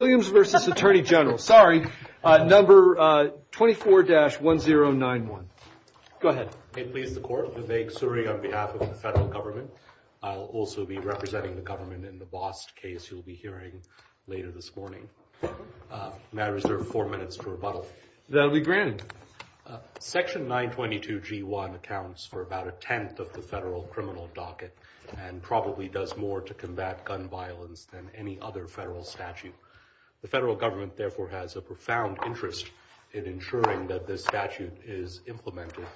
Williams versus Attorney General, sorry, number 24 dash 1091. Go ahead. Please the court, Vivek Suri on behalf of the federal government. I'll also be representing the government in the Bost case you'll be hearing later this morning. Now reserve four minutes for rebuttal. That'll be granted. Section 922 G1 accounts for about a 10th of the federal criminal docket and probably does more to combat gun violence than any other federal statute. The federal government therefore has a profound interest in ensuring that this statute is implemented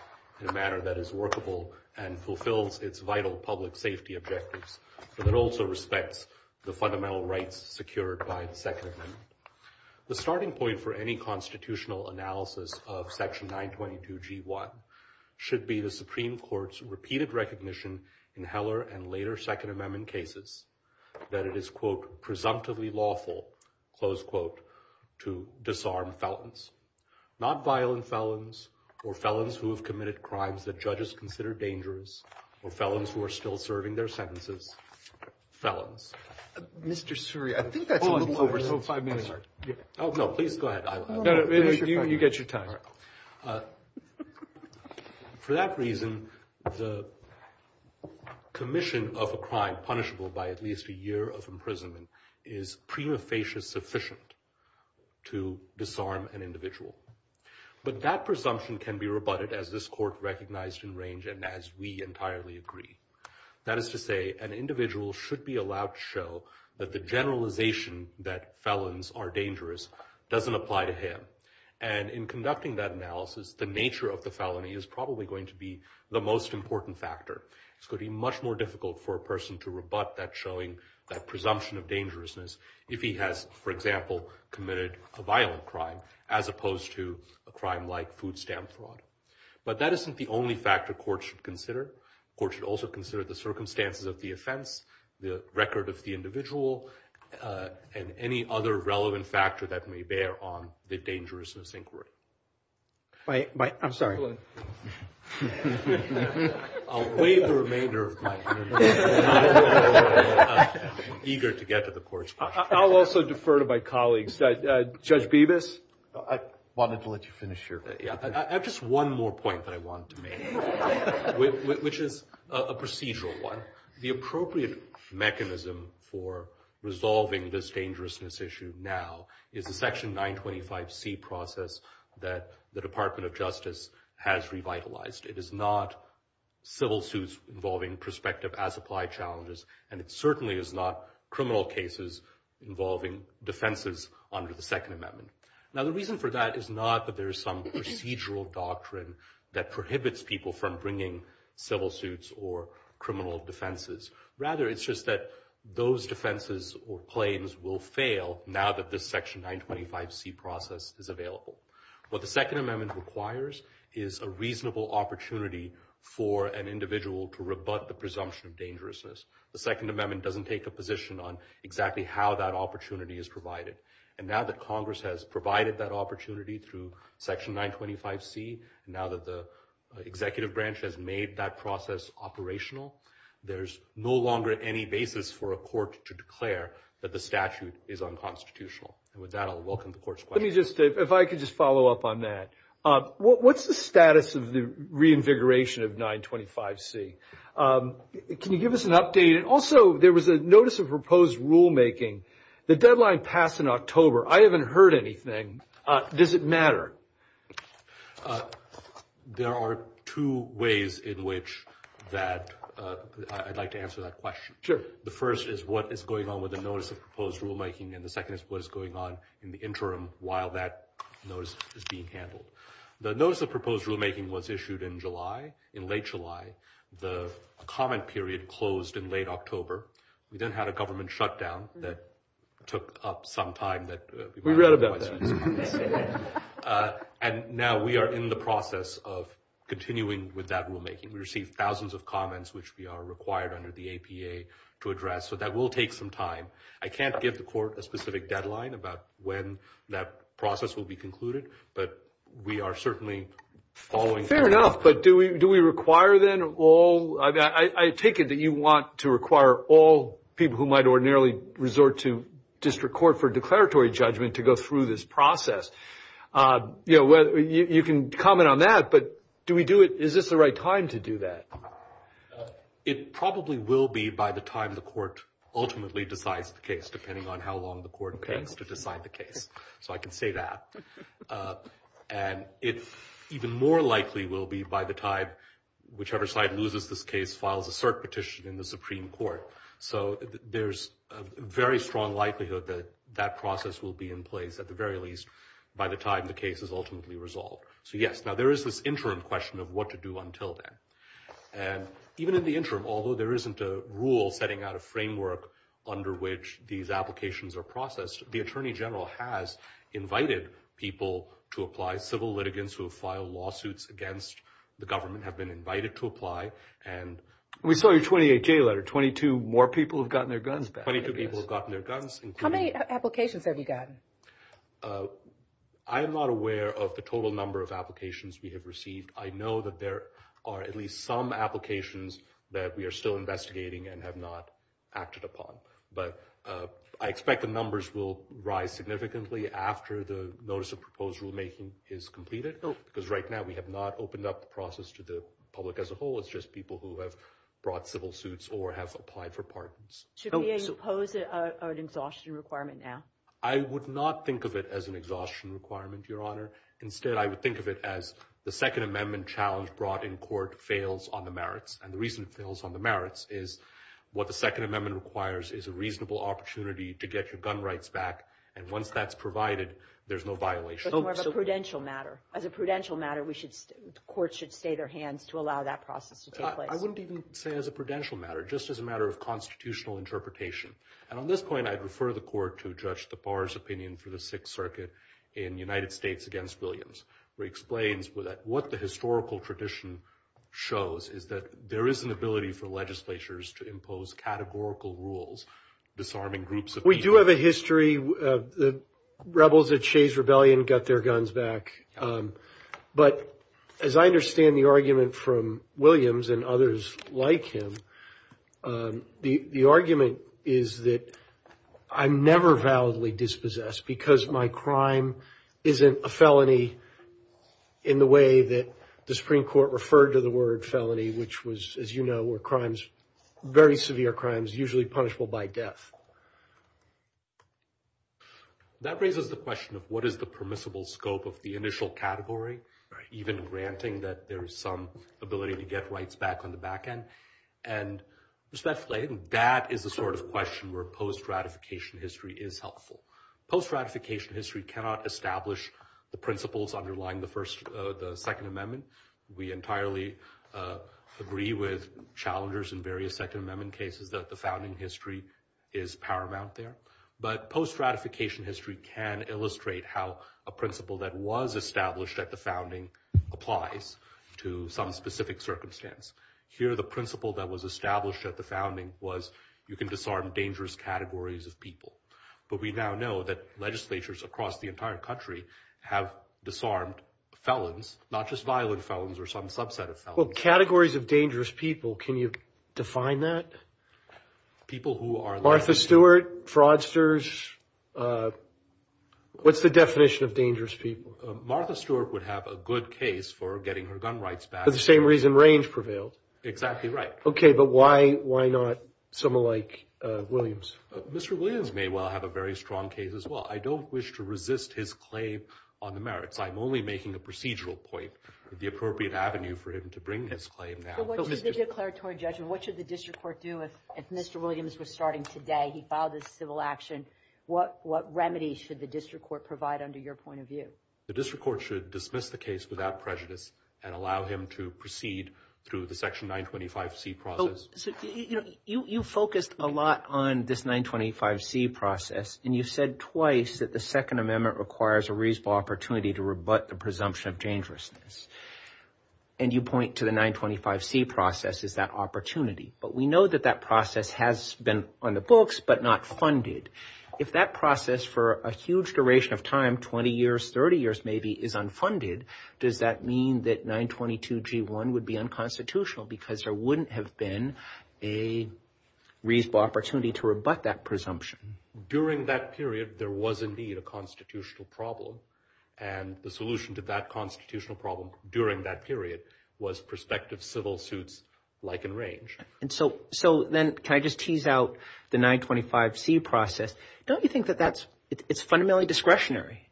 in a manner that is workable and fulfills its vital public safety objectives. But it also respects the fundamental rights secured by the second. The starting point for any constitutional analysis of section 922 G1 should be the Supreme Court's repeated recognition in Heller and later second amendment cases that it is quote presumptively lawful close quote to disarm fountains. Not violent felons or felons who have committed crimes that judges consider dangerous or felons who are still serving their sentences. Felons. Mr. Suri, I think that's a little over five minutes. Oh, no, please go ahead. You get your time. For that reason, the commission of a crime punishable by at least a year of imprisonment is prima facie sufficient to disarm an individual. But that presumption can be rebutted as this court recognized in range. And as we entirely agree, that is to say, an individual should be allowed to show that the generalization that felons are dangerous doesn't apply to him. And in conducting that analysis, the nature of the felony is probably going to be the most important factor. It's going to be much more difficult for a person to rebut that showing that presumption of dangerousness if he has, for example, committed a violent crime as opposed to a crime like food stamp fraud. But that isn't the only factor courts should consider. Courts should also consider the circumstances of the offense, the record of the individual and any other relevant factor that may bear on the dangerousness inquiry. I'm sorry. I'll waive the remainder of my time. Eager to get to the court's question. I'll also defer to my colleagues. Judge Bibas. I wanted to let you finish your. Yeah, I have just one more point that I wanted to make, which is a procedural one. The appropriate mechanism for resolving this dangerousness issue now is the Section 925C process that the Department of Justice has revitalized. It is not civil suits involving prospective as-applied challenges, and it certainly is not criminal cases involving defenses under the Second Amendment. Now, the reason for that is not that there is some procedural doctrine that prohibits people from bringing civil suits or criminal defenses. Rather, it's just that those defenses or claims will fail now that this Section 925C process is available. What the Second Amendment requires is a reasonable opportunity for an individual to rebut the presumption of dangerousness. The Second Amendment doesn't take a position on exactly how that opportunity is provided. And now that Congress has provided that opportunity through Section 925C, and now that the executive branch has made that process operational, there's no longer any basis for a court to declare that the statute is unconstitutional. And with that, I'll welcome the court's question. Let me just, if I could just follow up on that. What's the status of the reinvigoration of 925C? Can you give us an update? And also, there was a notice of proposed rulemaking. The deadline passed in October. I haven't heard anything. Does it matter? There are two ways in which that I'd like to answer that question. Sure. The first is what is going on with the notice of proposed rulemaking, and the second is what is going on in the interim while that notice is being handled. The notice of proposed rulemaking was issued in July, in late July. The comment period closed in late October. We then had a government shutdown that took up some time that we read about. And now we are in the process of continuing with that rulemaking. We received thousands of comments, which we are required under the APA to address. So that will take some time. I can't give the court a specific deadline about when that process will be concluded, but we are certainly following. Fair enough. But do we do we require then all? I take it that you want to require all people who might ordinarily resort to district court for declaratory judgment to go through this process. You know, you can comment on that, but do we do it? Is this the right time to do that? It probably will be by the time the court ultimately decides the case, depending on how long the court takes to decide the case. So I can say that. And it's even more likely will be by the time whichever side loses this case, files a cert petition in the Supreme Court. So there's a very strong likelihood that that process will be in place at the very least by the time the case is ultimately resolved. So, yes, now there is this interim question of what to do until then. And even in the interim, although there isn't a rule setting out a framework under which these applications are processed, the attorney general has invited people to apply. Civil litigants who have filed lawsuits against the government have been invited to apply. And we saw your 28-J letter. Twenty-two more people have gotten their guns back. Twenty-two people have gotten their guns. How many applications have you gotten? I am not aware of the total number of applications we have received. I know that there are at least some applications that we are still investigating and have not acted upon. But I expect the numbers will rise significantly after the notice of proposed rulemaking is completed, because right now we have not opened up the process to the public as a whole. It's just people who have brought civil suits or have applied for pardons. Should we impose an exhaustion requirement now? I would not think of it as an exhaustion requirement, Your Honor. Instead, I would think of it as the Second Amendment challenge brought in court fails on the merits. And the reason it fails on the merits is what the Second Amendment requires is a reasonable opportunity to get your gun rights back. And once that's provided, there's no violation. But more of a prudential matter. As a prudential matter, courts should stay their hands to allow that process to take place. I wouldn't even say as a prudential matter, just as a matter of constitutional interpretation. And on this point, I'd refer the court to Judge DePars' opinion for the Sixth Circuit in United States against Williams, where he explains what the historical tradition shows is that there is an ability for legislatures to impose categorical rules, disarming groups. We do have a history of the rebels that chased rebellion, got their guns back. But as I understand the argument from Williams and others like him, the argument is that I'm never validly dispossessed because my crime isn't a felony in the way that the Supreme Court referred to the word felony, which was, as you know, were crimes, very severe crimes, usually punishable by death. That raises the question of what is the permissible scope of the initial category, even granting that there is some ability to get rights back on the back end. And respectfully, that is the sort of question where post-ratification history is helpful. Post-ratification history cannot establish the principles underlying the Second Amendment. We entirely agree with challengers in various Second Amendment cases that the founding history is paramount there. But post-ratification history can illustrate how a principle that was established at the founding applies to some specific circumstance. Here, the principle that was established at the founding was you can disarm dangerous categories of people. But we now know that legislatures across the entire country have disarmed felons, not just violent felons or some subset of felons. Well, categories of dangerous people, can you define that? People who are... Martha Stewart, fraudsters. What's the definition of dangerous people? Martha Stewart would have a good case for getting her gun rights back. For the same reason Range prevailed. Exactly right. OK, but why not someone like Williams? Mr. Williams may well have a very strong case as well. I don't wish to resist his claim on the merits. I'm only making a procedural point, the appropriate avenue for him to bring his claim down. So what should the declaratory judgment, what should the district court do if Mr. Williams was starting today? He filed his civil action. What remedy should the district court provide under your point of view? The district court should dismiss the case without prejudice and allow him to proceed through the Section 925C process. You focused a lot on this 925C process and you said twice that the Second Amendment requires a reasonable opportunity to rebut the presumption of dangerousness. And you point to the 925C process as that opportunity. But we know that that process has been on the books, but not funded. If that process for a huge duration of time, 20 years, 30 years maybe, is unfunded, does that mean that 922G1 would be unconstitutional? Because there wouldn't have been a reasonable opportunity to rebut that presumption. During that period, there was indeed a constitutional problem. And the solution to that constitutional problem during that period was prospective civil suits like in range. And so so then can I just tease out the 925C process? Don't you think that that's it's fundamentally discretionary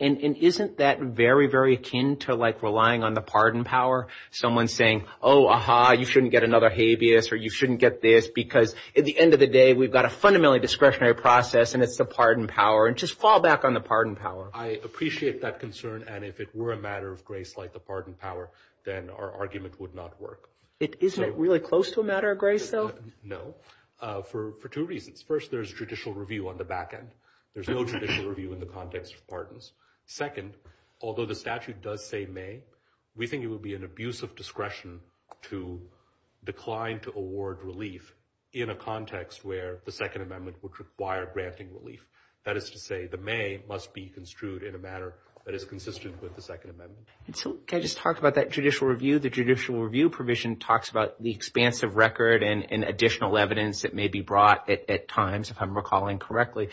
and isn't that very, very akin to like relying on the pardon power? Someone saying, oh, aha, you shouldn't get another habeas or you shouldn't get this because at the end of the day, we've got a fundamentally discretionary process and it's the pardon power. And just fall back on the pardon power. I appreciate that concern. And if it were a matter of grace, like the pardon power, then our argument would not work. Isn't it really close to a matter of grace, though? No. For two reasons. First, there's judicial review on the back end. There's no judicial review in the context of pardons. Second, although the statute does say may, we think it would be an abuse of discretion to decline to award relief in a context where the Second Amendment would require granting relief. That is to say, the may must be construed in a manner that is consistent with the Second Amendment. And so can I just talk about that judicial review? The judicial review provision talks about the expansive record and additional evidence that may be brought at times, if I'm recalling correctly.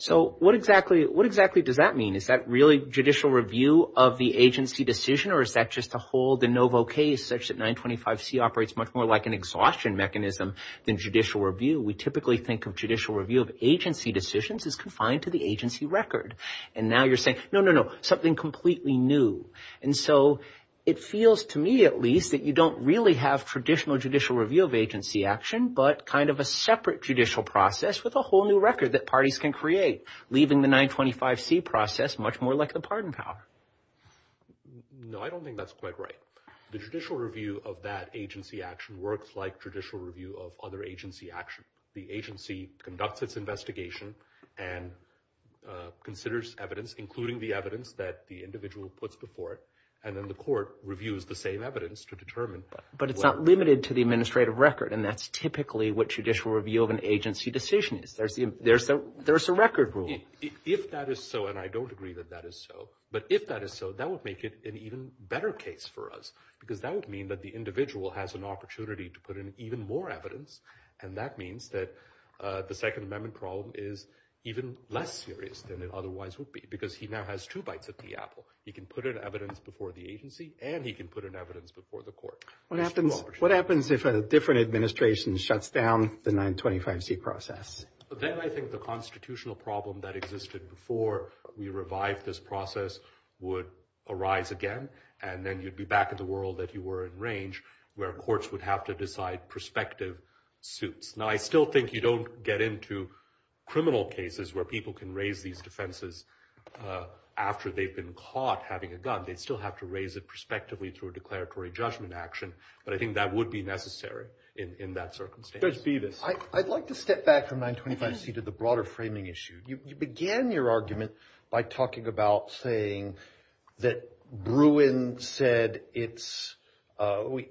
So what exactly what exactly does that mean? Is that really judicial review of the agency decision or is that just a whole de novo case such that 925C operates much more like an exhaustion mechanism than judicial review? We typically think of judicial review of agency decisions as confined to the agency record. And now you're saying, no, no, no, something completely new. And so it feels to me, at least, that you don't really have traditional judicial review of agency action, but kind of a separate judicial process with a whole new record that parties can create. Leaving the 925C process much more like the pardon power. No, I don't think that's quite right. The judicial review of that agency action works like judicial review of other agency action. The agency conducts its investigation and considers evidence, including the evidence that the individual puts before it. And then the court reviews the same evidence to determine. But it's not limited to the administrative record. And that's typically what judicial review of an agency decision is. There's a record rule. If that is so, and I don't agree that that is so, but if that is so, that would make it an even better case for us. Because that would mean that the individual has an opportunity to put in even more evidence. And that means that the Second Amendment problem is even less serious than it otherwise would be, because he now has two bites at the apple. He can put in evidence before the agency and he can put in evidence before the court. What happens if a different administration shuts down the 925C process? But then I think the constitutional problem that existed before we revived this process would arise again. And then you'd be back in the world that you were in range where courts would have to decide prospective suits. Now, I still think you don't get into criminal cases where people can raise these defenses after they've been caught having a gun. They'd still have to raise it prospectively through a declaratory judgment action. But I think that would be necessary in that circumstance. I'd like to step back from 925C to the broader framing issue. You began your argument by talking about saying that Bruin said it's,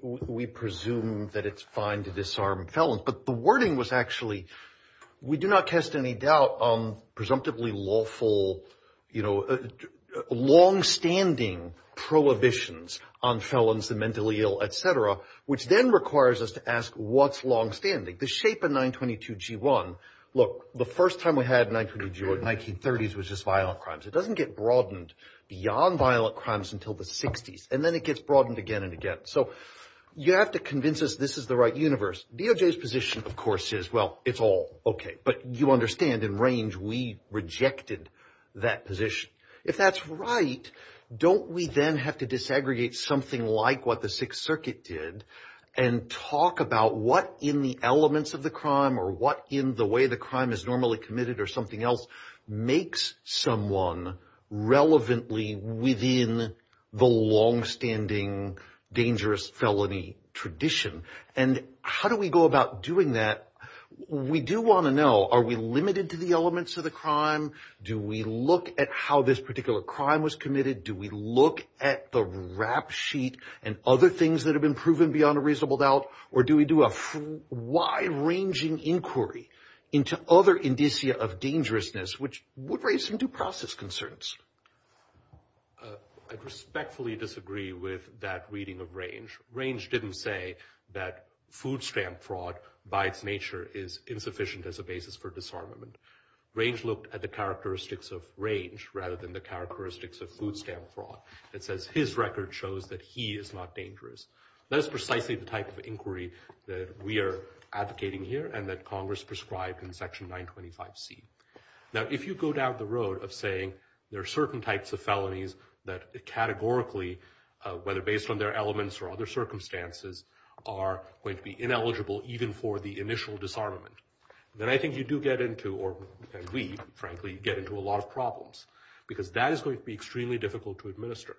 we presume that it's fine to disarm felons. But the wording was actually, we do not cast any doubt on presumptively lawful, you know, longstanding prohibitions on felons, the mentally ill, etc. Which then requires us to ask what's longstanding? The shape of 922G1, look, the first time we had 922G1 in the 1930s was just violent crimes. It doesn't get broadened beyond violent crimes until the 60s. And then it gets broadened again and again. So you have to convince us this is the right universe. DOJ's position, of course, is, well, it's all OK. But you understand in range we rejected that position. If that's right, don't we then have to disaggregate something like what the Sixth Circuit did and talk about what in the elements of the crime or what in the way the crime is normally committed or something else makes someone relevantly within the longstanding dangerous felony tradition? And how do we go about doing that? We do want to know, are we limited to the elements of the crime? Do we look at how this particular crime was committed? Do we look at the rap sheet and other things that have been proven beyond a reasonable doubt? Or do we do a wide ranging inquiry into other indicia of dangerousness, which would raise some due process concerns? I respectfully disagree with that reading of range. Range didn't say that food stamp fraud by its nature is insufficient as a basis for disarmament. Range looked at the characteristics of range rather than the characteristics of food stamp fraud. It says his record shows that he is not dangerous. That is precisely the type of inquiry that we are advocating here and that Congress prescribed in Section 925C. Now, if you go down the road of saying there are certain types of felonies that categorically, whether based on their elements or other circumstances, are going to be ineligible even for the initial disarmament. Then I think you do get into, or we frankly, get into a lot of problems because that is going to be extremely difficult to administer.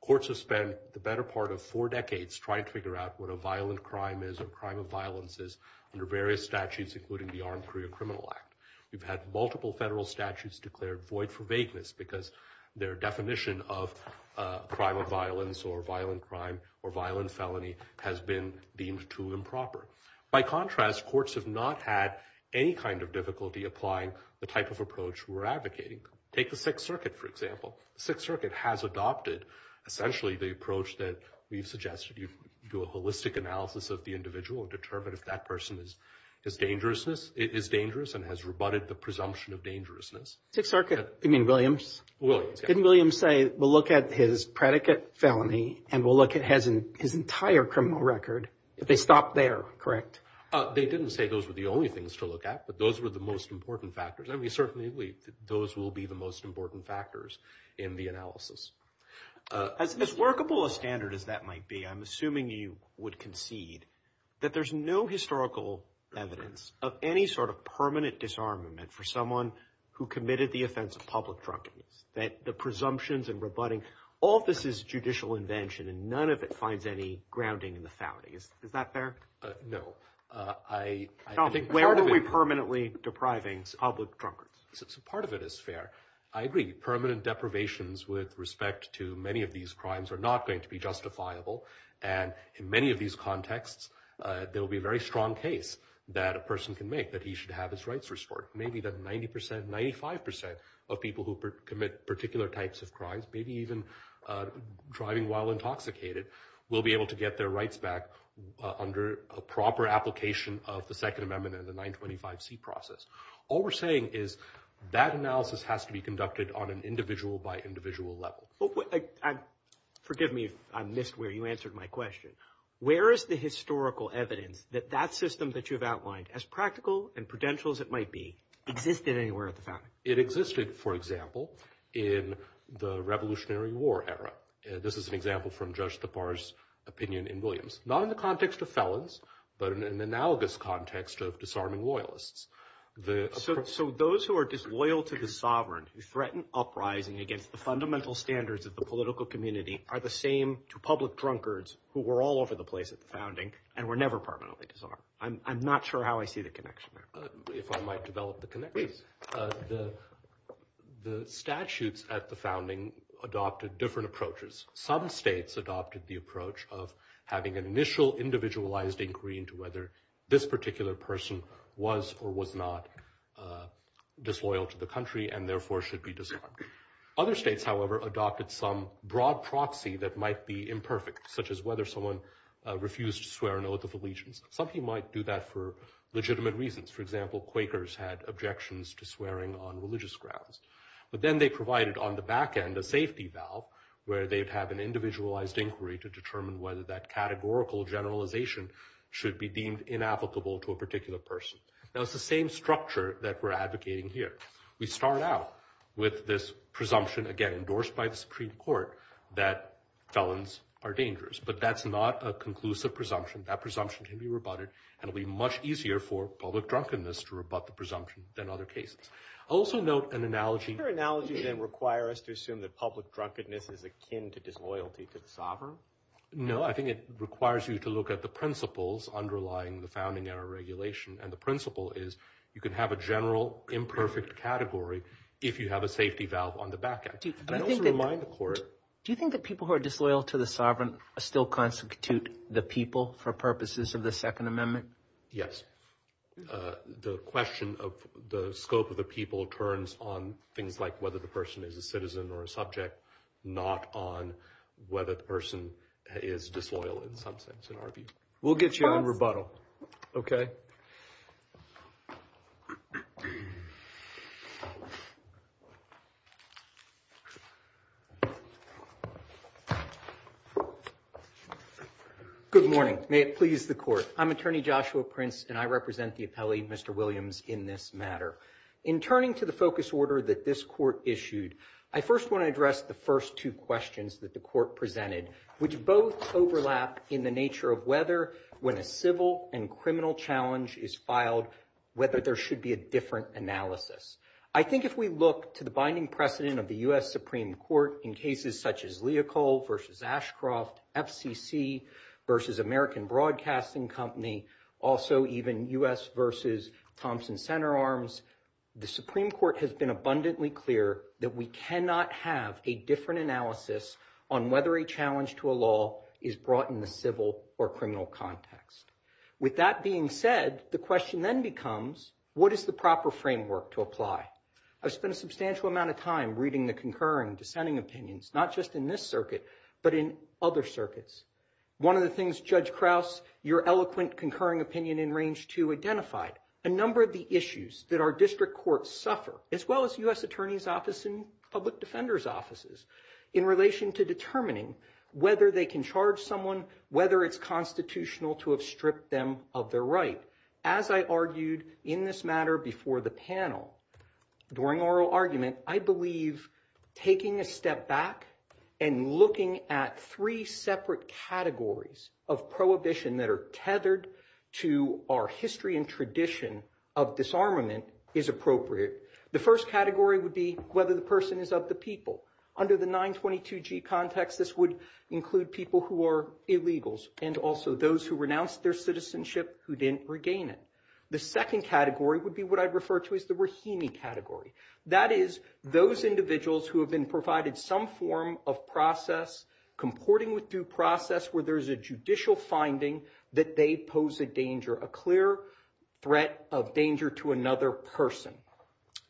Courts have spent the better part of four decades trying to figure out what a violent crime is or crime of violence is under various statutes, including the Armed Career Criminal Act. You've had multiple federal statutes declared void for vagueness because their definition of a crime of violence or violent crime or violent felony has been deemed too improper. By contrast, courts have not had any kind of difficulty applying the type of approach we're advocating. Take the Sixth Circuit, for example. Sixth Circuit has adopted essentially the approach that we've suggested. You do a holistic analysis of the individual and determine if that person is dangerous and has rebutted the presumption of dangerousness. Sixth Circuit, you mean Williams? Williams, yeah. We'll look at his predicate felony and we'll look at his entire criminal record. They stopped there, correct? They didn't say those were the only things to look at, but those were the most important factors. I mean, certainly those will be the most important factors in the analysis. As workable a standard as that might be, I'm assuming you would concede that there's no historical evidence of any sort of permanent disarmament for someone who committed the offense of public drunkenness. That the presumptions and rebutting, all of this is judicial invention and none of it finds any grounding in the family. Is that fair? No. I think part of it... Where are we permanently depriving public drunkards? So part of it is fair. I agree. Permanent deprivations with respect to many of these crimes are not going to be justifiable. And in many of these contexts, there will be a very strong case that a person can make that he should have his rights restored. Maybe that 90%, 95% of people who commit particular types of crimes, maybe even driving while intoxicated, will be able to get their rights back under a proper application of the Second Amendment and the 925C process. All we're saying is that analysis has to be conducted on an individual by individual level. Forgive me if I missed where you answered my question. Where is the historical evidence that that system that you've outlined, as practical and prudential as it might be, existed anywhere at the family? It existed, for example, in the Revolutionary War era. This is an example from Judge Tappar's opinion in Williams. Not in the context of felons, but in an analogous context of disarming loyalists. So those who are disloyal to the sovereign, who threaten uprising against the fundamental standards of the political community, are the same to public drunkards who were all over the place at the founding and were never permanently disarmed. I'm not sure how I see the connection there. If I might develop the connection. The statutes at the founding adopted different approaches. Some states adopted the approach of having an initial individualized inquiry into whether this particular person was or was not disloyal to the country and therefore should be disarmed. Other states, however, adopted some broad proxy that might be imperfect, such as whether someone refused to swear an oath of allegiance. Some people might do that for legitimate reasons. For example, Quakers had objections to swearing on religious grounds. But then they provided on the back end a safety valve where they'd have an individualized inquiry to determine whether that categorical generalization should be deemed inapplicable to a particular person. Now it's the same structure that we're advocating here. We start out with this presumption, again endorsed by the Supreme Court, that felons are dangerous. But that's not a conclusive presumption. That presumption can be rebutted and it'll be much easier for public drunkenness to rebut the presumption than other cases. I'll also note an analogy. Your analogy then require us to assume that public drunkenness is akin to disloyalty to the sovereign? No, I think it requires you to look at the principles underlying the founding era regulation. And the principle is you can have a general imperfect category if you have a safety valve on the back end. Do you think that people who are disloyal to the sovereign still constitute the people for purposes of the Second Amendment? Yes. The question of the scope of the people turns on things like whether the person is a citizen or a subject, not on whether the person is disloyal in some sense. We'll get you on rebuttal. Good morning. May it please the court. I'm Attorney Joshua Prince and I represent the appellee, Mr. Williams, in this matter. In turning to the focus order that this court issued, I first want to address the first two questions that the court presented, which both overlap in the nature of whether when a civil and criminal challenge is filed, whether there should be a different analysis. I think if we look to the binding precedent of the U.S. Supreme Court in cases such as Leocol versus Ashcroft, FCC versus American Broadcasting Company, also even U.S. versus Thompson Center Arms, the Supreme Court has been abundantly clear that we cannot have a different analysis on whether a challenge to a law is brought in the civil or criminal context. With that being said, the question then becomes, what is the proper framework to apply? I've spent a substantial amount of time reading the concurring and dissenting opinions, not just in this circuit, but in other circuits. One of the things Judge Krause, your eloquent concurring opinion in Range 2 identified, a number of the issues that our district courts suffer, as well as U.S. As I argued in this matter before the panel, during oral argument, I believe taking a step back and looking at three separate categories of prohibition that are tethered to our history and tradition of disarmament is appropriate. The first category would be whether the person is of the people. Under the 922G context, this would include people who are illegals and also those who renounced their citizenship who didn't regain it. The second category would be what I refer to as the Rahimi category. That is those individuals who have been provided some form of process, comporting with due process, where there's a judicial finding that they pose a danger, a clear threat of danger to another person.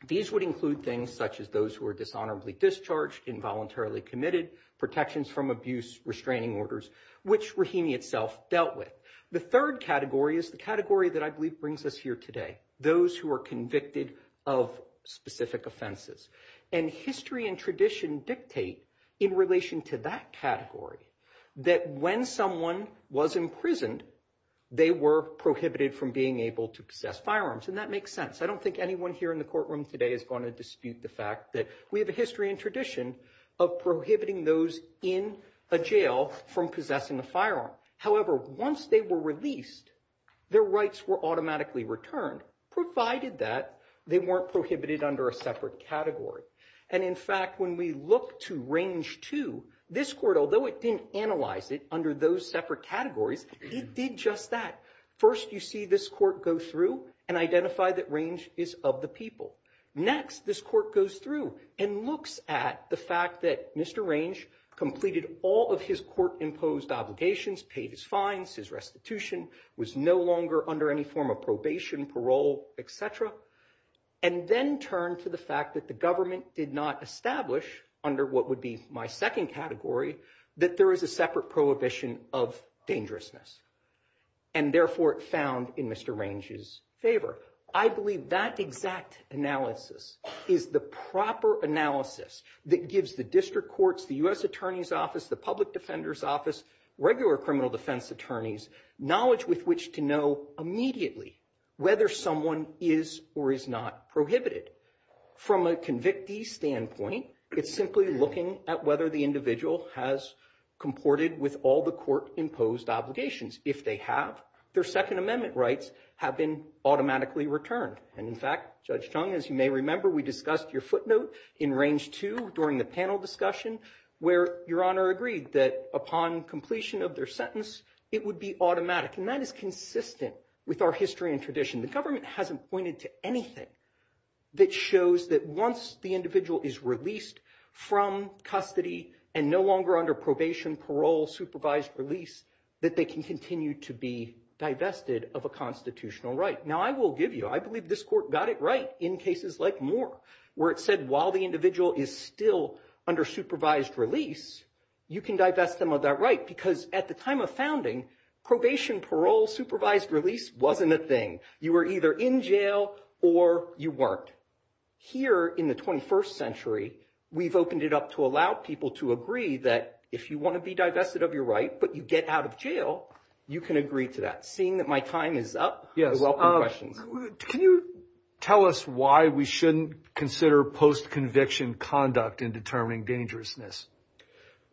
These would include things such as those who are dishonorably discharged, involuntarily committed, protections from abuse, restraining orders, which Rahimi itself dealt with. The third category is the category that I believe brings us here today. Those who are convicted of specific offenses. And history and tradition dictate in relation to that category that when someone was imprisoned, they were prohibited from being able to possess firearms. And that makes sense. I don't think anyone here in the courtroom today is going to dispute the fact that we have a history and tradition of prohibiting those in a jail from possessing a firearm. However, once they were released, their rights were automatically returned, provided that they weren't prohibited under a separate category. And in fact, when we look to Range 2, this court, although it didn't analyze it under those separate categories, it did just that. First, you see this court go through and identify that Range is of the people. Next, this court goes through and looks at the fact that Mr. Range completed all of his court imposed obligations, paid his fines, his restitution, was no longer under any form of probation, parole, etc. And then turned to the fact that the government did not establish under what would be my second category, that there is a separate prohibition of dangerousness. And therefore, it found in Mr. Range's favor. I believe that exact analysis is the proper analysis that gives the district courts, the U.S. Attorney's Office, the Public Defender's Office, regular criminal defense attorneys, knowledge with which to know immediately whether someone is or is not prohibited. From a convictee standpoint, it's simply looking at whether the individual has comported with all the court imposed obligations. If they have, their Second Amendment rights have been automatically returned. And in fact, Judge Chung, as you may remember, we discussed your footnote in Range 2 during the panel discussion where Your Honor agreed that upon completion of their sentence, it would be automatic. And that is consistent with our history and tradition. The government hasn't pointed to anything that shows that once the individual is released from custody and no longer under probation, parole, supervised release, that they can continue to be divested of a constitutional right. Now, I will give you, I believe this court got it right in cases like Moore, where it said while the individual is still under supervised release, you can divest them of that right. Because at the time of founding, probation, parole, supervised release wasn't a thing. You were either in jail or you weren't. Here in the 21st century, we've opened it up to allow people to agree that if you want to be divested of your right, but you get out of jail, you can agree to that. Seeing that my time is up, I welcome questions. Can you tell us why we shouldn't consider post-conviction conduct in determining dangerousness?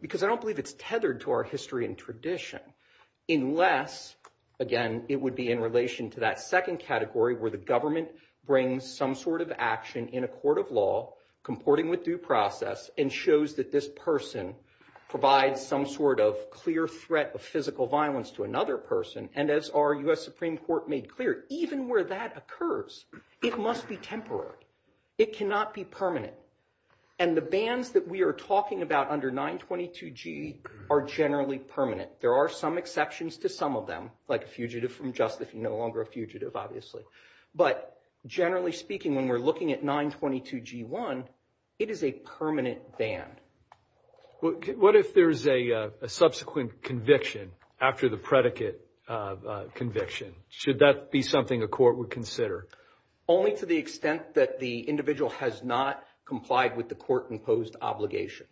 Because I don't believe it's tethered to our history and tradition, unless, again, it would be in relation to that second category where the government brings some sort of action in a court of law, comporting with due process, and shows that this person provides some sort of clear threat of physical violence to another person. And as our U.S. Supreme Court made clear, even where that occurs, it must be temporary. It cannot be permanent. And the bans that we are talking about under 922G are generally permanent. There are some exceptions to some of them, like a fugitive from justice, no longer a fugitive, obviously. But generally speaking, when we're looking at 922G1, it is a permanent ban. What if there is a subsequent conviction after the predicate conviction? Should that be something a court would consider? Only to the extent that the individual has not complied with the court-imposed obligations.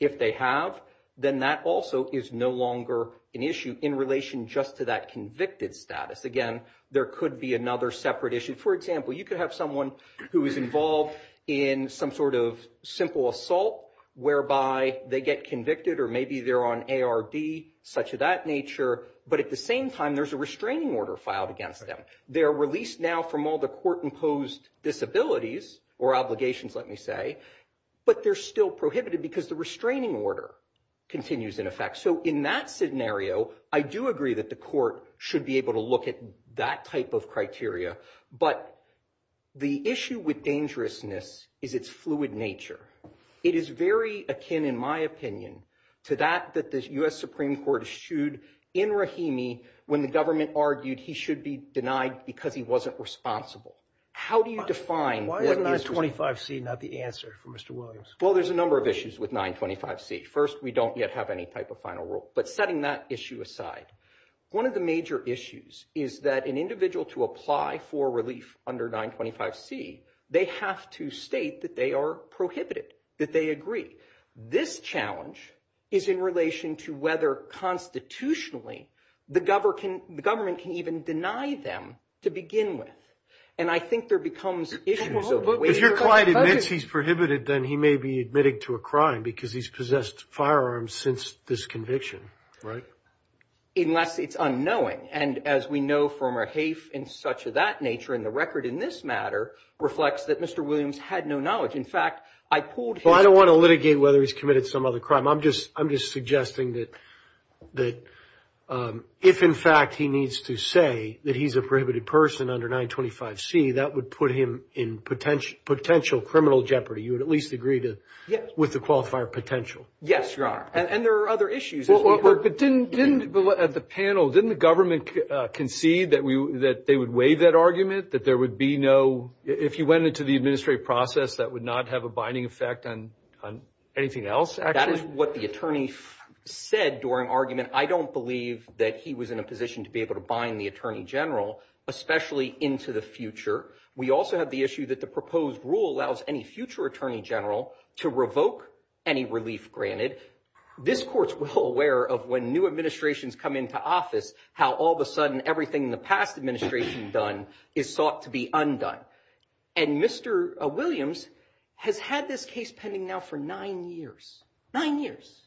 If they have, then that also is no longer an issue in relation just to that convicted status. Again, there could be another separate issue. For example, you could have someone who is involved in some sort of simple assault whereby they get convicted or maybe they're on ARB, such of that nature. But at the same time, there's a restraining order filed against them. They're released now from all the court-imposed disabilities or obligations, let me say, but they're still prohibited because the restraining order continues in effect. So in that scenario, I do agree that the court should be able to look at that type of criteria. But the issue with dangerousness is its fluid nature. It is very akin, in my opinion, to that that the U.S. Supreme Court eschewed in Rahimi when the government argued he should be denied because he wasn't responsible. How do you define... Why is 925C not the answer for Mr. Williams? Well, there's a number of issues with 925C. First, we don't yet have any type of final rule. But setting that issue aside, one of the major issues is that an individual to apply for relief under 925C, they have to state that they are prohibited. That they agree. This challenge is in relation to whether constitutionally the government can even deny them to begin with. And I think there becomes issues of... But if your client admits he's prohibited, then he may be admitting to a crime because he's possessed firearms since this conviction, right? Unless it's unknowing. And as we know from a HAIF in such of that nature, and the record in this matter reflects that Mr. Williams had no knowledge. In fact, I pulled his... Well, I don't want to litigate whether he's committed some other crime. I'm just suggesting that if, in fact, he needs to say that he's a prohibited person under 925C, that would put him in potential criminal jeopardy. You would at least agree with the qualifier potential. Yes, Your Honor. And there are other issues. But didn't the panel, didn't the government concede that they would waive that argument? That there would be no... If you went into the administrative process, that would not have a binding effect on anything else? That is what the attorney said during argument. I don't believe that he was in a position to be able to bind the attorney general, especially into the future. We also have the issue that the proposed rule allows any future attorney general to revoke any relief granted. This court's well aware of when new administrations come into office, how all of a sudden everything in the past administration done is sought to be undone. And Mr. Williams has had this case pending now for nine years, nine years,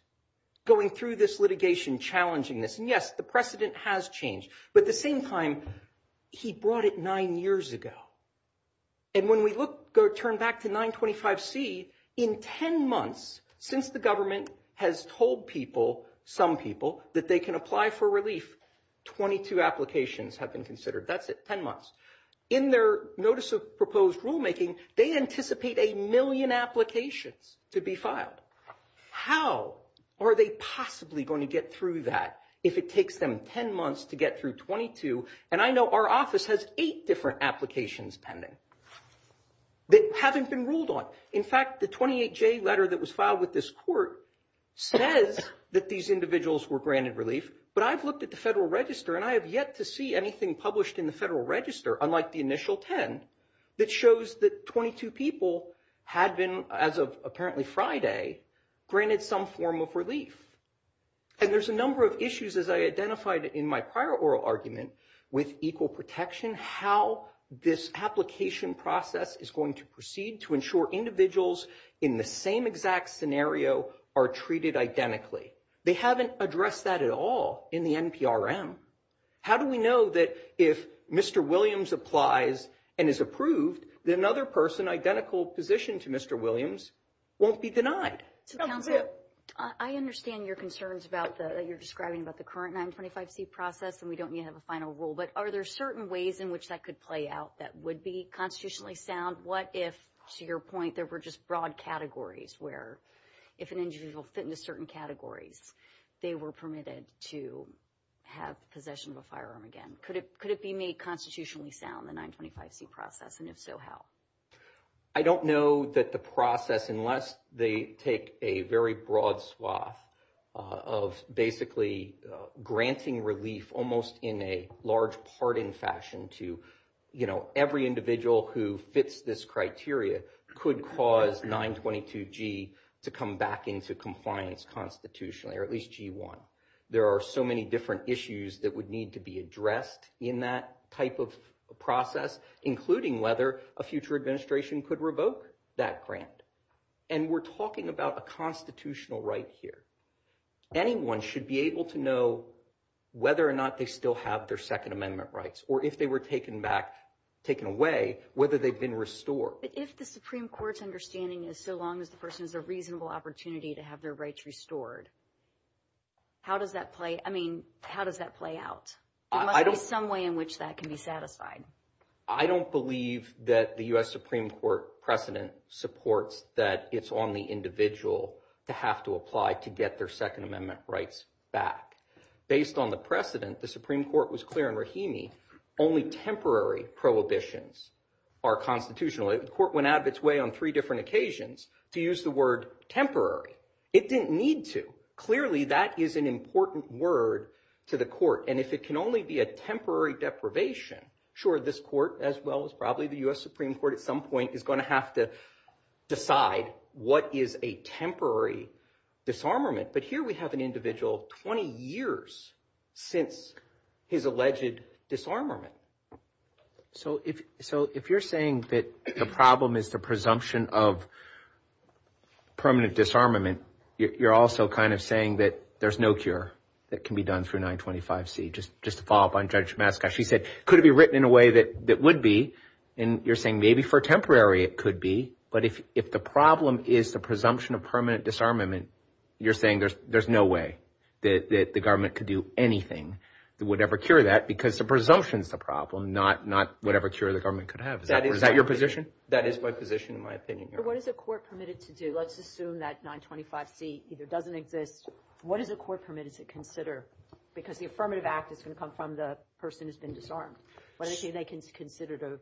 going through this litigation, challenging this. And yes, the precedent has changed. But at the same time, he brought it nine years ago. And when we turn back to 925C, in 10 months, since the government has told people, some people, that they can apply for relief, 22 applications have been considered. That's it, 10 months. In their notice of proposed rulemaking, they anticipate a million applications to be filed. How are they possibly going to get through that if it takes them 10 months to get through 22? And I know our office has eight different applications pending that haven't been ruled on. In fact, the 28J letter that was filed with this court says that these individuals were granted relief. But I've looked at the Federal Register and I have yet to see anything published in the Federal Register, unlike the initial 10, that shows that 22 people had been, as of apparently Friday, granted some form of relief. And there's a number of issues, as I identified in my prior oral argument, with equal protection, how this application process is going to proceed to ensure individuals in the same exact scenario are treated identically. They haven't addressed that at all in the NPRM. How do we know that if Mr. Williams applies and is approved, that another person, identical position to Mr. Williams, won't be denied? Counselor, I understand your concerns that you're describing about the current 925C process, and we don't yet have a final rule. But are there certain ways in which that could play out that would be constitutionally sound? What if, to your point, there were just broad categories where if an individual fit into certain categories, they were permitted to have possession of a firearm again? Could it could it be made constitutionally sound, the 925C process? And if so, how? I don't know that the process, unless they take a very broad swath of basically granting relief almost in a large part in fashion to, you know, every individual who fits this criteria could cause 922G to come back into compliance constitutionally, or at least G1. There are so many different issues that would need to be addressed in that type of process, including whether a future administration could revoke that grant. And we're talking about a constitutional right here. Anyone should be able to know whether or not they still have their Second Amendment rights, or if they were taken back, taken away, whether they've been restored. But if the Supreme Court's understanding is so long as the person has a reasonable opportunity to have their rights restored. How does that play? I mean, how does that play out? There must be some way in which that can be satisfied. I don't believe that the US Supreme Court precedent supports that it's on the individual to have to apply to get their Second Amendment rights back. Based on the precedent, the Supreme Court was clear in Rahimi, only temporary prohibitions are constitutional. The court went out of its way on three different occasions to use the word temporary. It didn't need to. Clearly, that is an important word to the court. And if it can only be a temporary deprivation, sure, this court, as well as probably the US Supreme Court at some point, is going to have to decide what is a temporary disarmament. But here we have an individual 20 years since his alleged disarmament. So if you're saying that the problem is the presumption of permanent disarmament, you're also kind of saying that there's no cure that can be done through 925C. Just to follow up on Judge Mascot, she said, could it be written in a way that it would be? And you're saying maybe for temporary it could be. But if the problem is the presumption of permanent disarmament, you're saying there's no way that the government could do anything that would ever cure that. Because the presumption is the problem, not whatever cure the government could have. Is that your position? That is my position, in my opinion, Your Honor. But what is a court permitted to do? Let's assume that 925C either doesn't exist. What is a court permitted to consider? Because the affirmative act is going to come from the person who's been disarmed. What is it they can consider?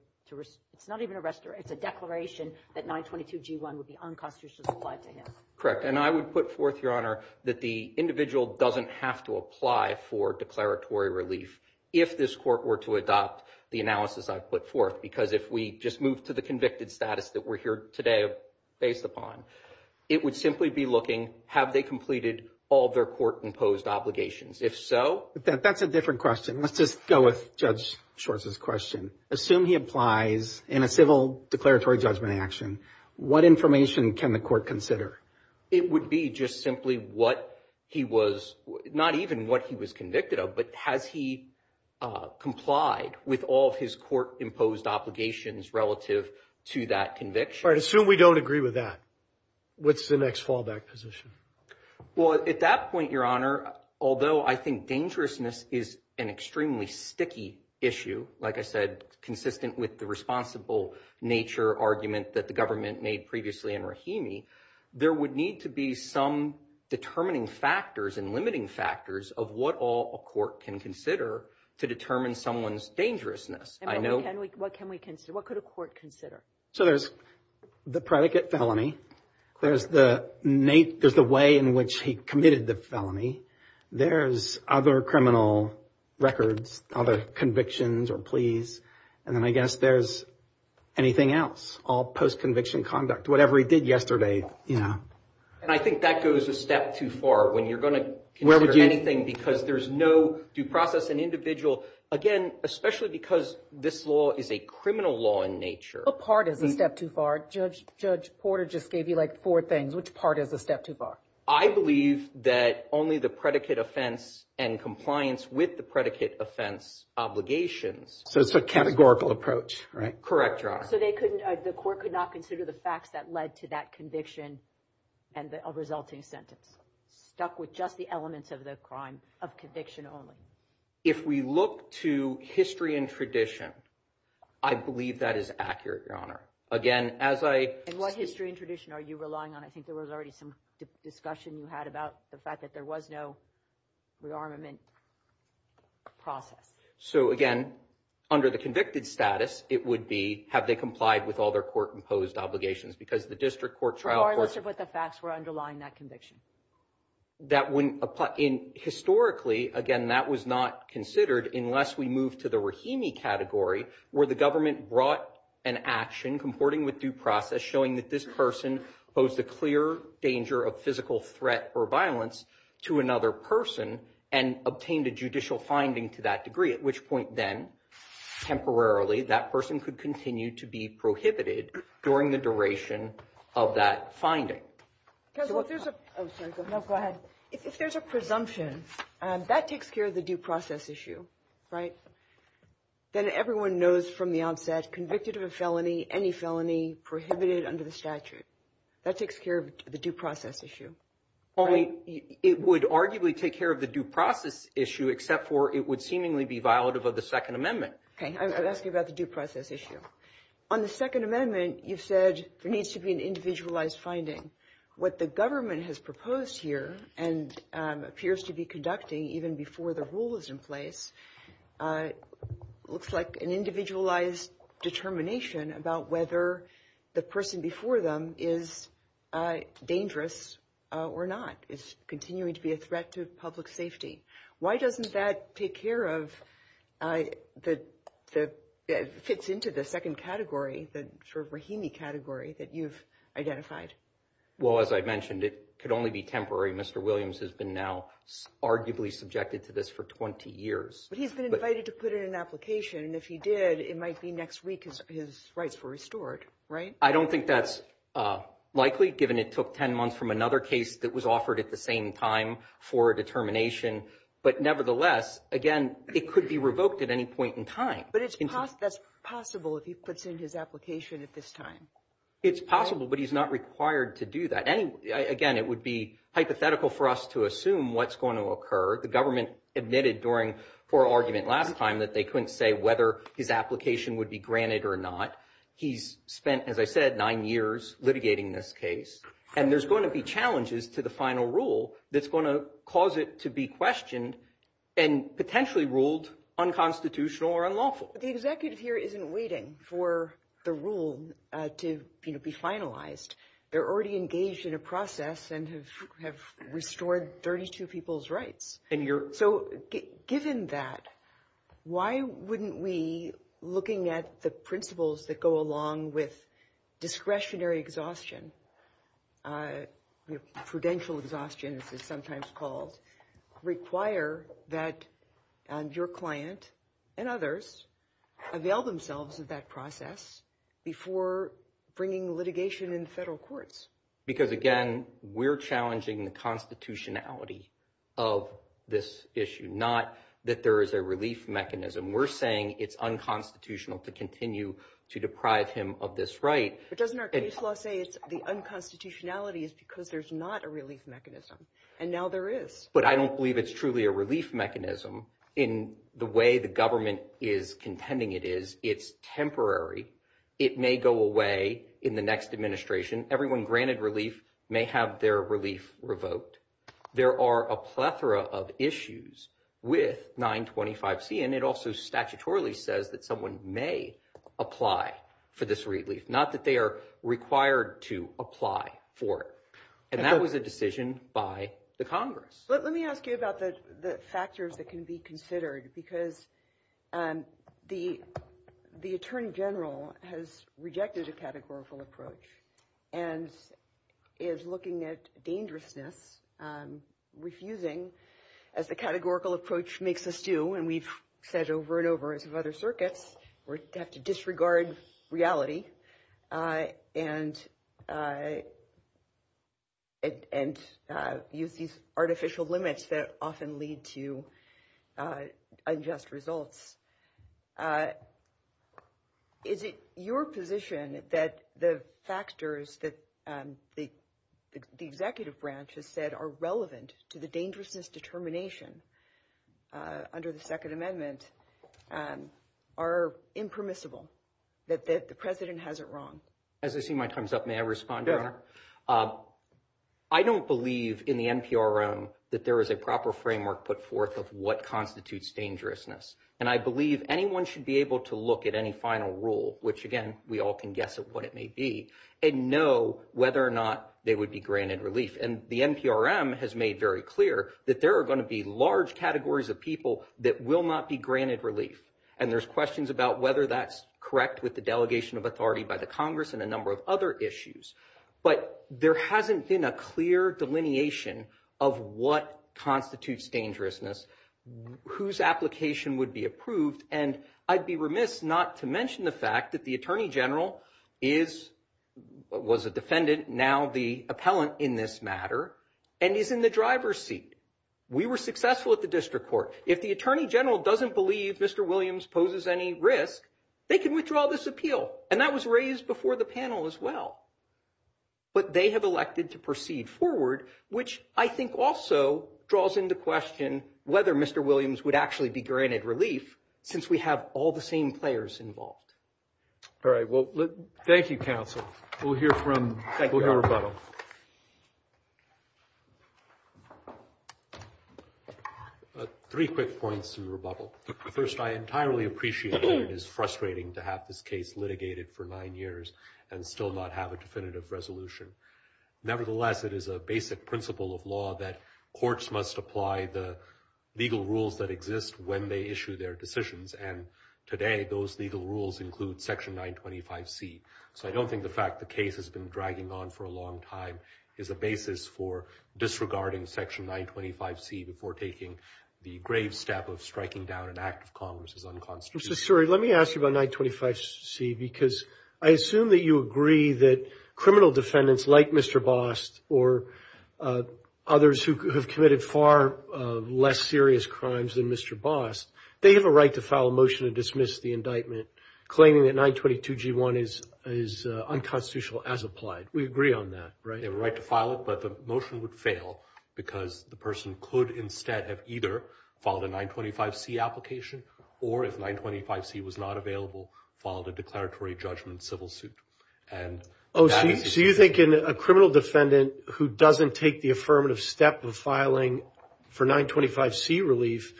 It's not even a restoration. It's a declaration that 922G1 would be unconstitutionally applied to him. Correct. And I would put forth, Your Honor, that the individual doesn't have to apply for declaratory relief. If this court were to adopt the analysis I've put forth. Because if we just move to the convicted status that we're here today based upon, it would simply be looking, have they completed all their court-imposed obligations? If so... That's a different question. Let's just go with Judge Schwartz's question. Assume he applies in a civil declaratory judgment action, what information can the court consider? It would be just simply what he was, not even what he was convicted of, but has he complied with all of his court-imposed obligations relative to that conviction? All right. Assume we don't agree with that. What's the next fallback position? Well, at that point, Your Honor, although I think dangerousness is an extremely sticky issue, like I said, consistent with the responsible nature argument that the government made previously in Rahimi, there would need to be some determining factors and limiting factors of what all a court can consider to determine someone's dangerousness. And what can we consider? What could a court consider? So there's the predicate felony. There's the way in which he committed the felony. There's other criminal records, other convictions or pleas. And then I guess there's anything else, all post-conviction conduct. Whatever he did yesterday. And I think that goes a step too far when you're going to consider anything because there's no due process and individual, again, especially because this law is a criminal law in nature. What part is a step too far? Judge Porter just gave you like four things. Which part is a step too far? I believe that only the predicate offense and compliance with the predicate offense obligations. So it's a categorical approach, right? Correct, Your Honor. The court could not consider the facts that led to that conviction and the resulting sentence. Stuck with just the elements of the crime of conviction only. If we look to history and tradition, I believe that is accurate, Your Honor. Again, as I... And what history and tradition are you relying on? I think there was already some discussion you had about the fact that there was no rearmament process. So, again, under the convicted status, it would be have they complied with all their court-imposed obligations because the district court trial... Or listed what the facts were underlying that conviction. That wouldn't apply. And historically, again, that was not considered unless we move to the Rahimi category where the government brought an action comporting with due process showing that this person posed a clear danger of physical threat or violence to another person and obtained a judicial finding to that degree, at which point then, temporarily, that person could continue to be prohibited during the duration of that finding. So if there's a... Oh, sorry. No, go ahead. If there's a presumption, that takes care of the due process issue, right? Then everyone knows from the onset, convicted of a felony, any felony, prohibited under the statute, that takes care of the due process issue, right? It would arguably take care of the due process issue, except for it would seemingly be violative of the Second Amendment. Okay, I'll ask you about the due process issue. On the Second Amendment, you've said there needs to be an individualized finding. What the government has proposed here, and appears to be conducting even before the rule is in place, looks like an individualized determination about whether the person before them is dangerous or not, is continuing to be a threat to public safety. Why doesn't that take care of... fits into the second category, the sort of Rahimi category that you've identified? Well, as I mentioned, it could only be temporary. Mr. Williams has been now arguably subjected to this for 20 years. But he's been invited to put in an application, and if he did, it might be next week his rights were restored, right? I don't think that's likely, given it took 10 months from another case that was offered at the same time for a determination. But nevertheless, again, it could be revoked at any point in time. But that's possible if he puts in his application at this time? It's possible, but he's not required to do that. Again, it would be hypothetical for us to assume what's going to occur. The government admitted during our argument last time that they couldn't say whether his application would be granted or not. He's spent, as I said, nine years litigating this case, and there's going to be challenges to the final rule that's going to cause it to be questioned and potentially ruled unconstitutional or unlawful. The executive here isn't waiting for the rule to be finalized. They're already engaged in a process and have restored 32 people's rights. So given that, why wouldn't we, looking at the principles that go along with discretionary exhaustion, prudential exhaustion as it's sometimes called, require that your client and others avail themselves of that process before bringing litigation in federal courts? Because again, we're challenging the constitutionality of this issue, not that there is a relief mechanism. We're saying it's unconstitutional to continue to deprive him of this right. But doesn't our case law say the unconstitutionality is because there's not a relief mechanism? And now there is. But I don't believe it's truly a relief mechanism in the way the government is contending it is. It's temporary. It may go away in the next administration. Everyone granted relief may have their relief revoked. There are a plethora of issues with 925C. And it also statutorily says that someone may apply for this relief, not that they are required to apply for it. And that was a decision by the Congress. Let me ask you about the factors that can be considered, because the Attorney General has rejected a categorical approach. And is looking at dangerousness, refusing, as the categorical approach makes us do. And we've said over and over as of other circuits, we have to disregard reality. And use these artificial limits that often lead to unjust results. Is it your position that the factors that the executive branch has said are relevant to the dangerousness determination under the Second Amendment are impermissible? That the President has it wrong? As I see my time's up, may I respond, Your Honor? Go ahead. I don't believe in the NPRM that there is a proper framework put forth of what constitutes dangerousness. And I believe anyone should be able to look at any final rule, which again, we all can guess at what it may be, and know whether or not they would be granted relief. And the NPRM has made very clear that there are going to be large categories of people that will not be granted relief. And there's questions about whether that's correct with the delegation of authority by the Congress and a number of other issues. But there hasn't been a clear delineation of what constitutes dangerousness, whose application would be approved. And I'd be remiss not to mention the fact that the Attorney General is, was a defendant, now the appellant in this matter, and is in the driver's seat. We were successful at the district court. If the Attorney General doesn't believe Mr. Williams poses any risk, they can withdraw this appeal. And that was raised before the panel as well. But they have elected to proceed forward, which I think also draws into question whether Mr. Williams would actually be granted relief, since we have all the same players involved. All right. Well, thank you, counsel. We'll hear from, we'll hear rebuttal. Three quick points to rebuttal. First, I entirely appreciate that it is frustrating to have this case litigated for nine years and still not have a definitive resolution. Nevertheless, it is a basic principle of law that courts must apply the legal rules that exist when they issue their decisions. And today, those legal rules include Section 925C. So I don't think the fact the case has been dragging on for a long time is a basis for disregarding Section 925C before taking the grave step of striking down an act of Congress as unconstitutional. Mr. Suri, let me ask you about 925C, because I assume that you agree that criminal defendants like Mr. Bost or others who have committed far less serious crimes than Mr. Bost, they have a right to file a motion to dismiss the indictment, claiming that 922G1 is unconstitutional as applied. We agree on that, right? They have a right to file it, but the motion would fail because the person could instead have either filed a 925C application, or if 925C was not available, filed a declaratory judgment civil suit. Oh, so you think a criminal defendant who doesn't take the affirmative step of filing for 925C relief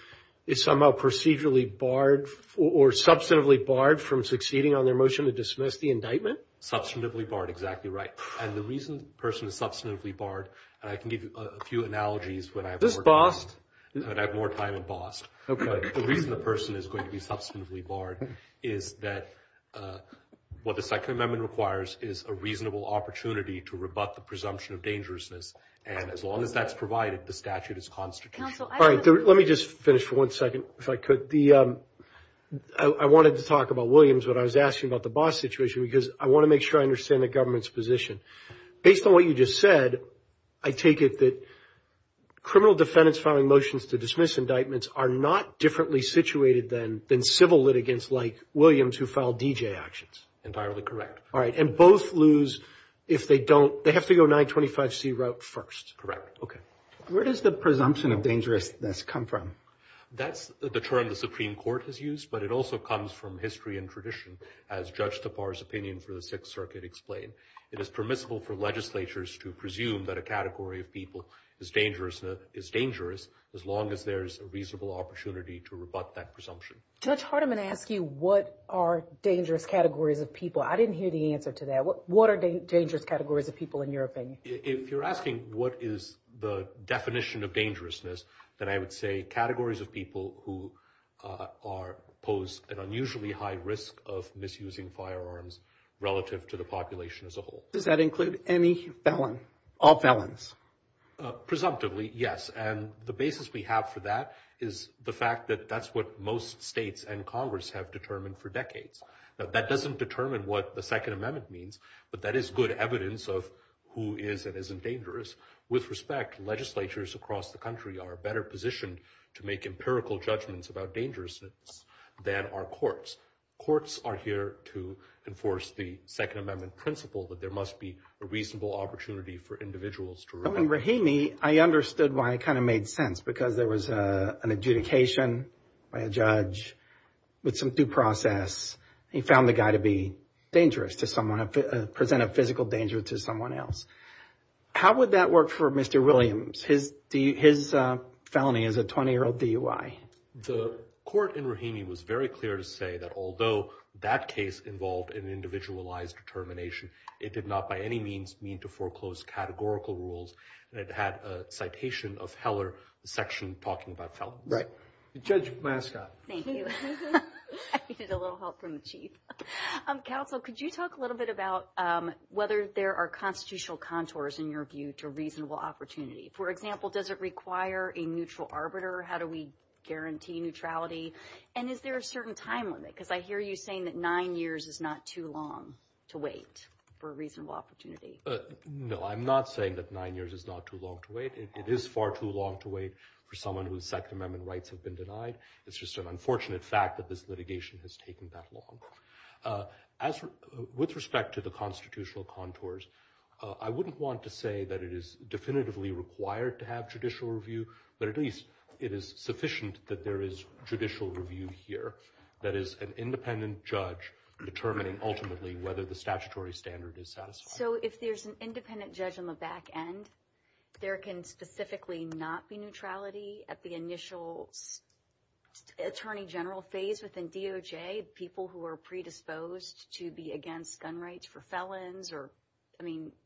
is somehow procedurally barred or substantively barred from succeeding on their motion to dismiss the indictment? Substantively barred, exactly right. And the reason the person is substantively barred, and I can give you a few analogies when I have more time in Bost, the reason the person is going to be substantively barred is that what the Second Amendment requires is a reasonable opportunity to rebut the presumption of dangerousness, and as long as that's provided, the statute is constitutional. All right, let me just finish for one second, if I could. I wanted to talk about Williams, but I was asking about the Bost situation because I want to make sure I understand the government's position. Based on what you just said, I take it that criminal defendants filing motions to dismiss Williams who filed D.J. actions? Entirely correct. All right, and both lose if they don't, they have to go 925C route first. Correct. Okay. Where does the presumption of dangerousness come from? That's the term the Supreme Court has used, but it also comes from history and tradition, as Judge Tappar's opinion for the Sixth Circuit explained. It is permissible for legislatures to presume that a category of people is dangerous as long as there's a reasonable opportunity to rebut that presumption. Judge Hardiman asked you what are dangerous categories of people. I didn't hear the answer to that. What are dangerous categories of people in your opinion? If you're asking what is the definition of dangerousness, then I would say categories of people who pose an unusually high risk of misusing firearms relative to the population as a whole. Does that include any felon, all felons? Presumptively, yes, and the basis we have for that is the fact that that's what most states and Congress have determined for decades. Now, that doesn't determine what the Second Amendment means, but that is good evidence of who is and isn't dangerous. With respect, legislatures across the country are better positioned to make empirical judgments about dangerousness than are courts. Courts are here to enforce the Second Amendment principle that there must be a reasonable opportunity for individuals to rebut. In Rahimi, I understood why it kind of made sense because there was an adjudication by a judge with some due process. He found the guy to be dangerous to someone, present a physical danger to someone else. How would that work for Mr. Williams? His felony is a 20-year-old DUI. The court in Rahimi was very clear to say that although that case involved an individualized determination, it did not by any means mean to foreclose categorical rules. It had a citation of Heller, the section talking about felons. Right. Judge Mascott. Thank you. I needed a little help from the chief. Counsel, could you talk a little bit about whether there are constitutional contours in your view to reasonable opportunity? For example, does it require a neutral arbiter? How do we guarantee neutrality? And is there a certain time limit? I hear you saying that nine years is not too long to wait for a reasonable opportunity. No, I'm not saying that nine years is not too long to wait. It is far too long to wait for someone whose Second Amendment rights have been denied. It's just an unfortunate fact that this litigation has taken that long. With respect to the constitutional contours, I wouldn't want to say that it is definitively required to have judicial review, but at least it is sufficient that there is judicial review here that is an independent judge determining ultimately whether the statutory standard is satisfied. So if there's an independent judge on the back end, there can specifically not be neutrality at the initial attorney general phase within DOJ, people who are predisposed to be against gun rights for felons?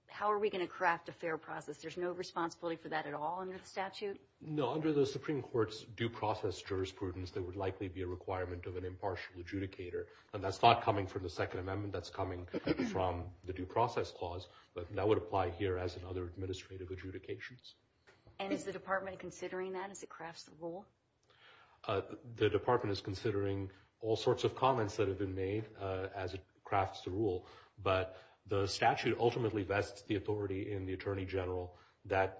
How are we going to craft a fair process? There's no responsibility for that at all under the statute? No, under the Supreme Court's due process jurisprudence, there would likely be a requirement of an impartial adjudicator. And that's not coming from the Second Amendment. That's coming from the due process clause. But that would apply here as in other administrative adjudications. And is the department considering that as it crafts the rule? The department is considering all sorts of comments that have been made as it crafts the rule. But the statute ultimately vests the authority in the attorney general. That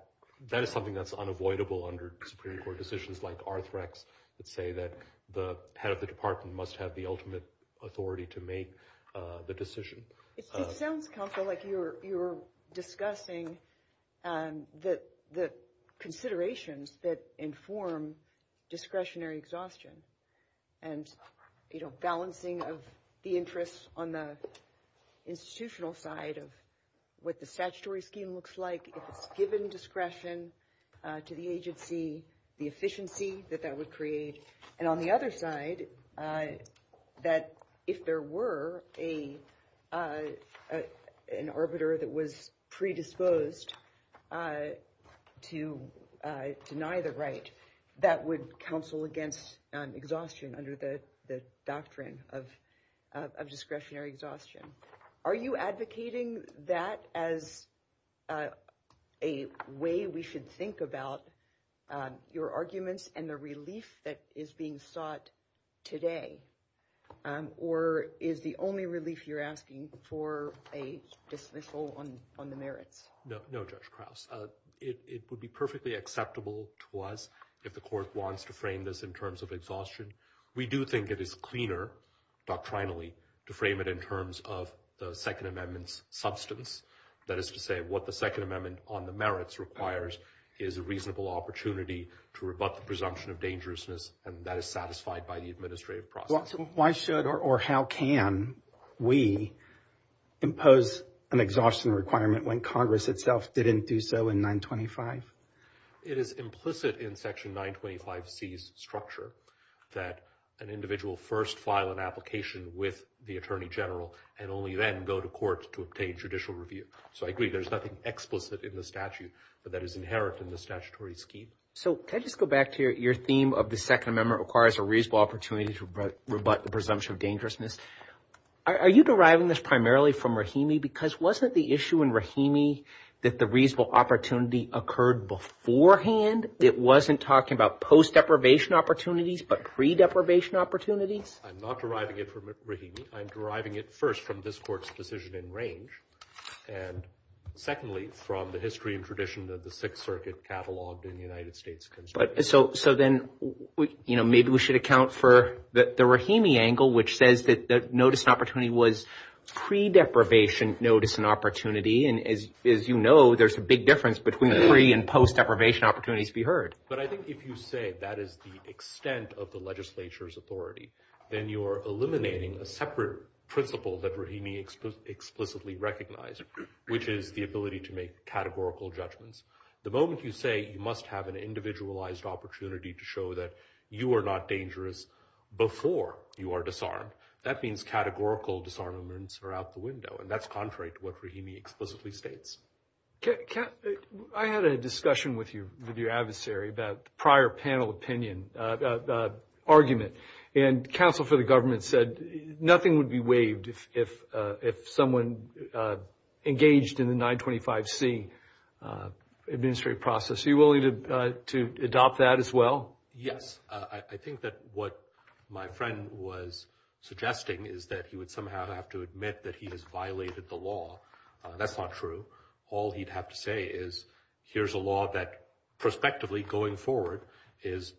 is something that's unavoidable under Supreme Court decisions like Arthrex that say that the head of the department must have the ultimate authority to make the decision. It sounds, Kampha, like you're discussing the considerations that inform discretionary exhaustion and balancing of the interests on the institutional side of what the statutory scheme looks like if it's given discretion to the agency, the efficiency that that would create. And on the other side, that if there were an arbiter that was predisposed to deny the right, that would counsel against exhaustion under the doctrine of discretionary exhaustion. Are you advocating that as a way we should think about your arguments and the relief that is being sought today, or is the only relief you're asking for a dismissal on the merits? No, no, Judge Krause. It would be perfectly acceptable to us if the court wants to frame this in terms of exhaustion. We do think it is cleaner doctrinally to frame it in terms of the Second Amendment's substance. That is to say, what the Second Amendment on the merits requires is a reasonable opportunity to rebut the presumption of dangerousness, and that is satisfied by the administrative process. Why should or how can we impose an exhaustion requirement when Congress itself didn't do so in 925? It is implicit in Section 925C's structure that an individual first file an application with the Attorney General and only then go to court to obtain judicial review. So I agree there's nothing explicit in the statute, but that is inherent in the statutory scheme. So can I just go back to your theme of the Second Amendment requires a reasonable opportunity to rebut the presumption of dangerousness. Are you deriving this primarily from Rahimi? Because wasn't the issue in Rahimi that the reasonable opportunity occurred beforehand? It wasn't talking about post-deprivation opportunities, but pre-deprivation opportunities? I'm not deriving it from Rahimi. I'm deriving it first from this Court's decision in range, and secondly, from the history and tradition of the Sixth Circuit cataloged in the United States Constitution. So then maybe we should account for the Rahimi angle, which says that the notice and opportunity was pre-deprivation notice and opportunity, and as you know, there's a big difference between pre- and post-deprivation opportunities to be heard. But I think if you say that is the extent of the legislature's authority, then you are eliminating a separate principle that Rahimi explicitly recognized, which is the ability to make categorical judgments. The moment you say you must have an individualized opportunity to show that you are not dangerous before you are disarmed, that means categorical disarmaments are out the window, and that's contrary to what Rahimi explicitly states. I had a discussion with your adversary about the prior panel opinion argument, and counsel for the government said nothing would be waived if someone engaged in the 925C administrative process. Are you willing to adopt that as well? Yes. I think that what my friend was suggesting is that he would somehow have to admit that he has violated the law. That's not true. All he'd have to say is, here's a law that prospectively, going forward, is,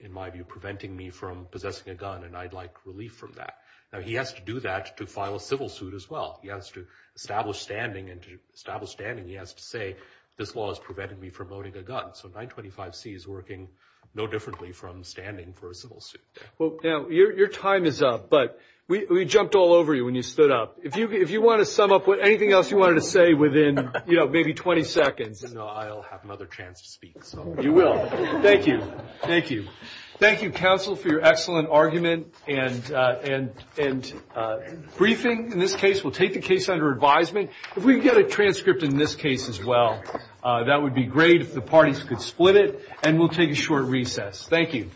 in my view, preventing me from possessing a gun, and I'd like relief from that. Now, he has to do that to file a civil suit as well. He has to establish standing, and to establish standing, he has to say, this law has prevented me from owning a gun. So 925C is working no differently from standing for a civil suit. Well, your time is up, but we jumped all over you when you stood up. If you want to sum up anything else you wanted to say within maybe 20 seconds, I'll have another chance to speak. You will. Thank you. Thank you. Thank you, counsel, for your excellent argument and briefing. In this case, we'll take the case under advisement. If we can get a transcript in this case as well, that would be great if the parties could split it, and we'll take a short recess. Thank you.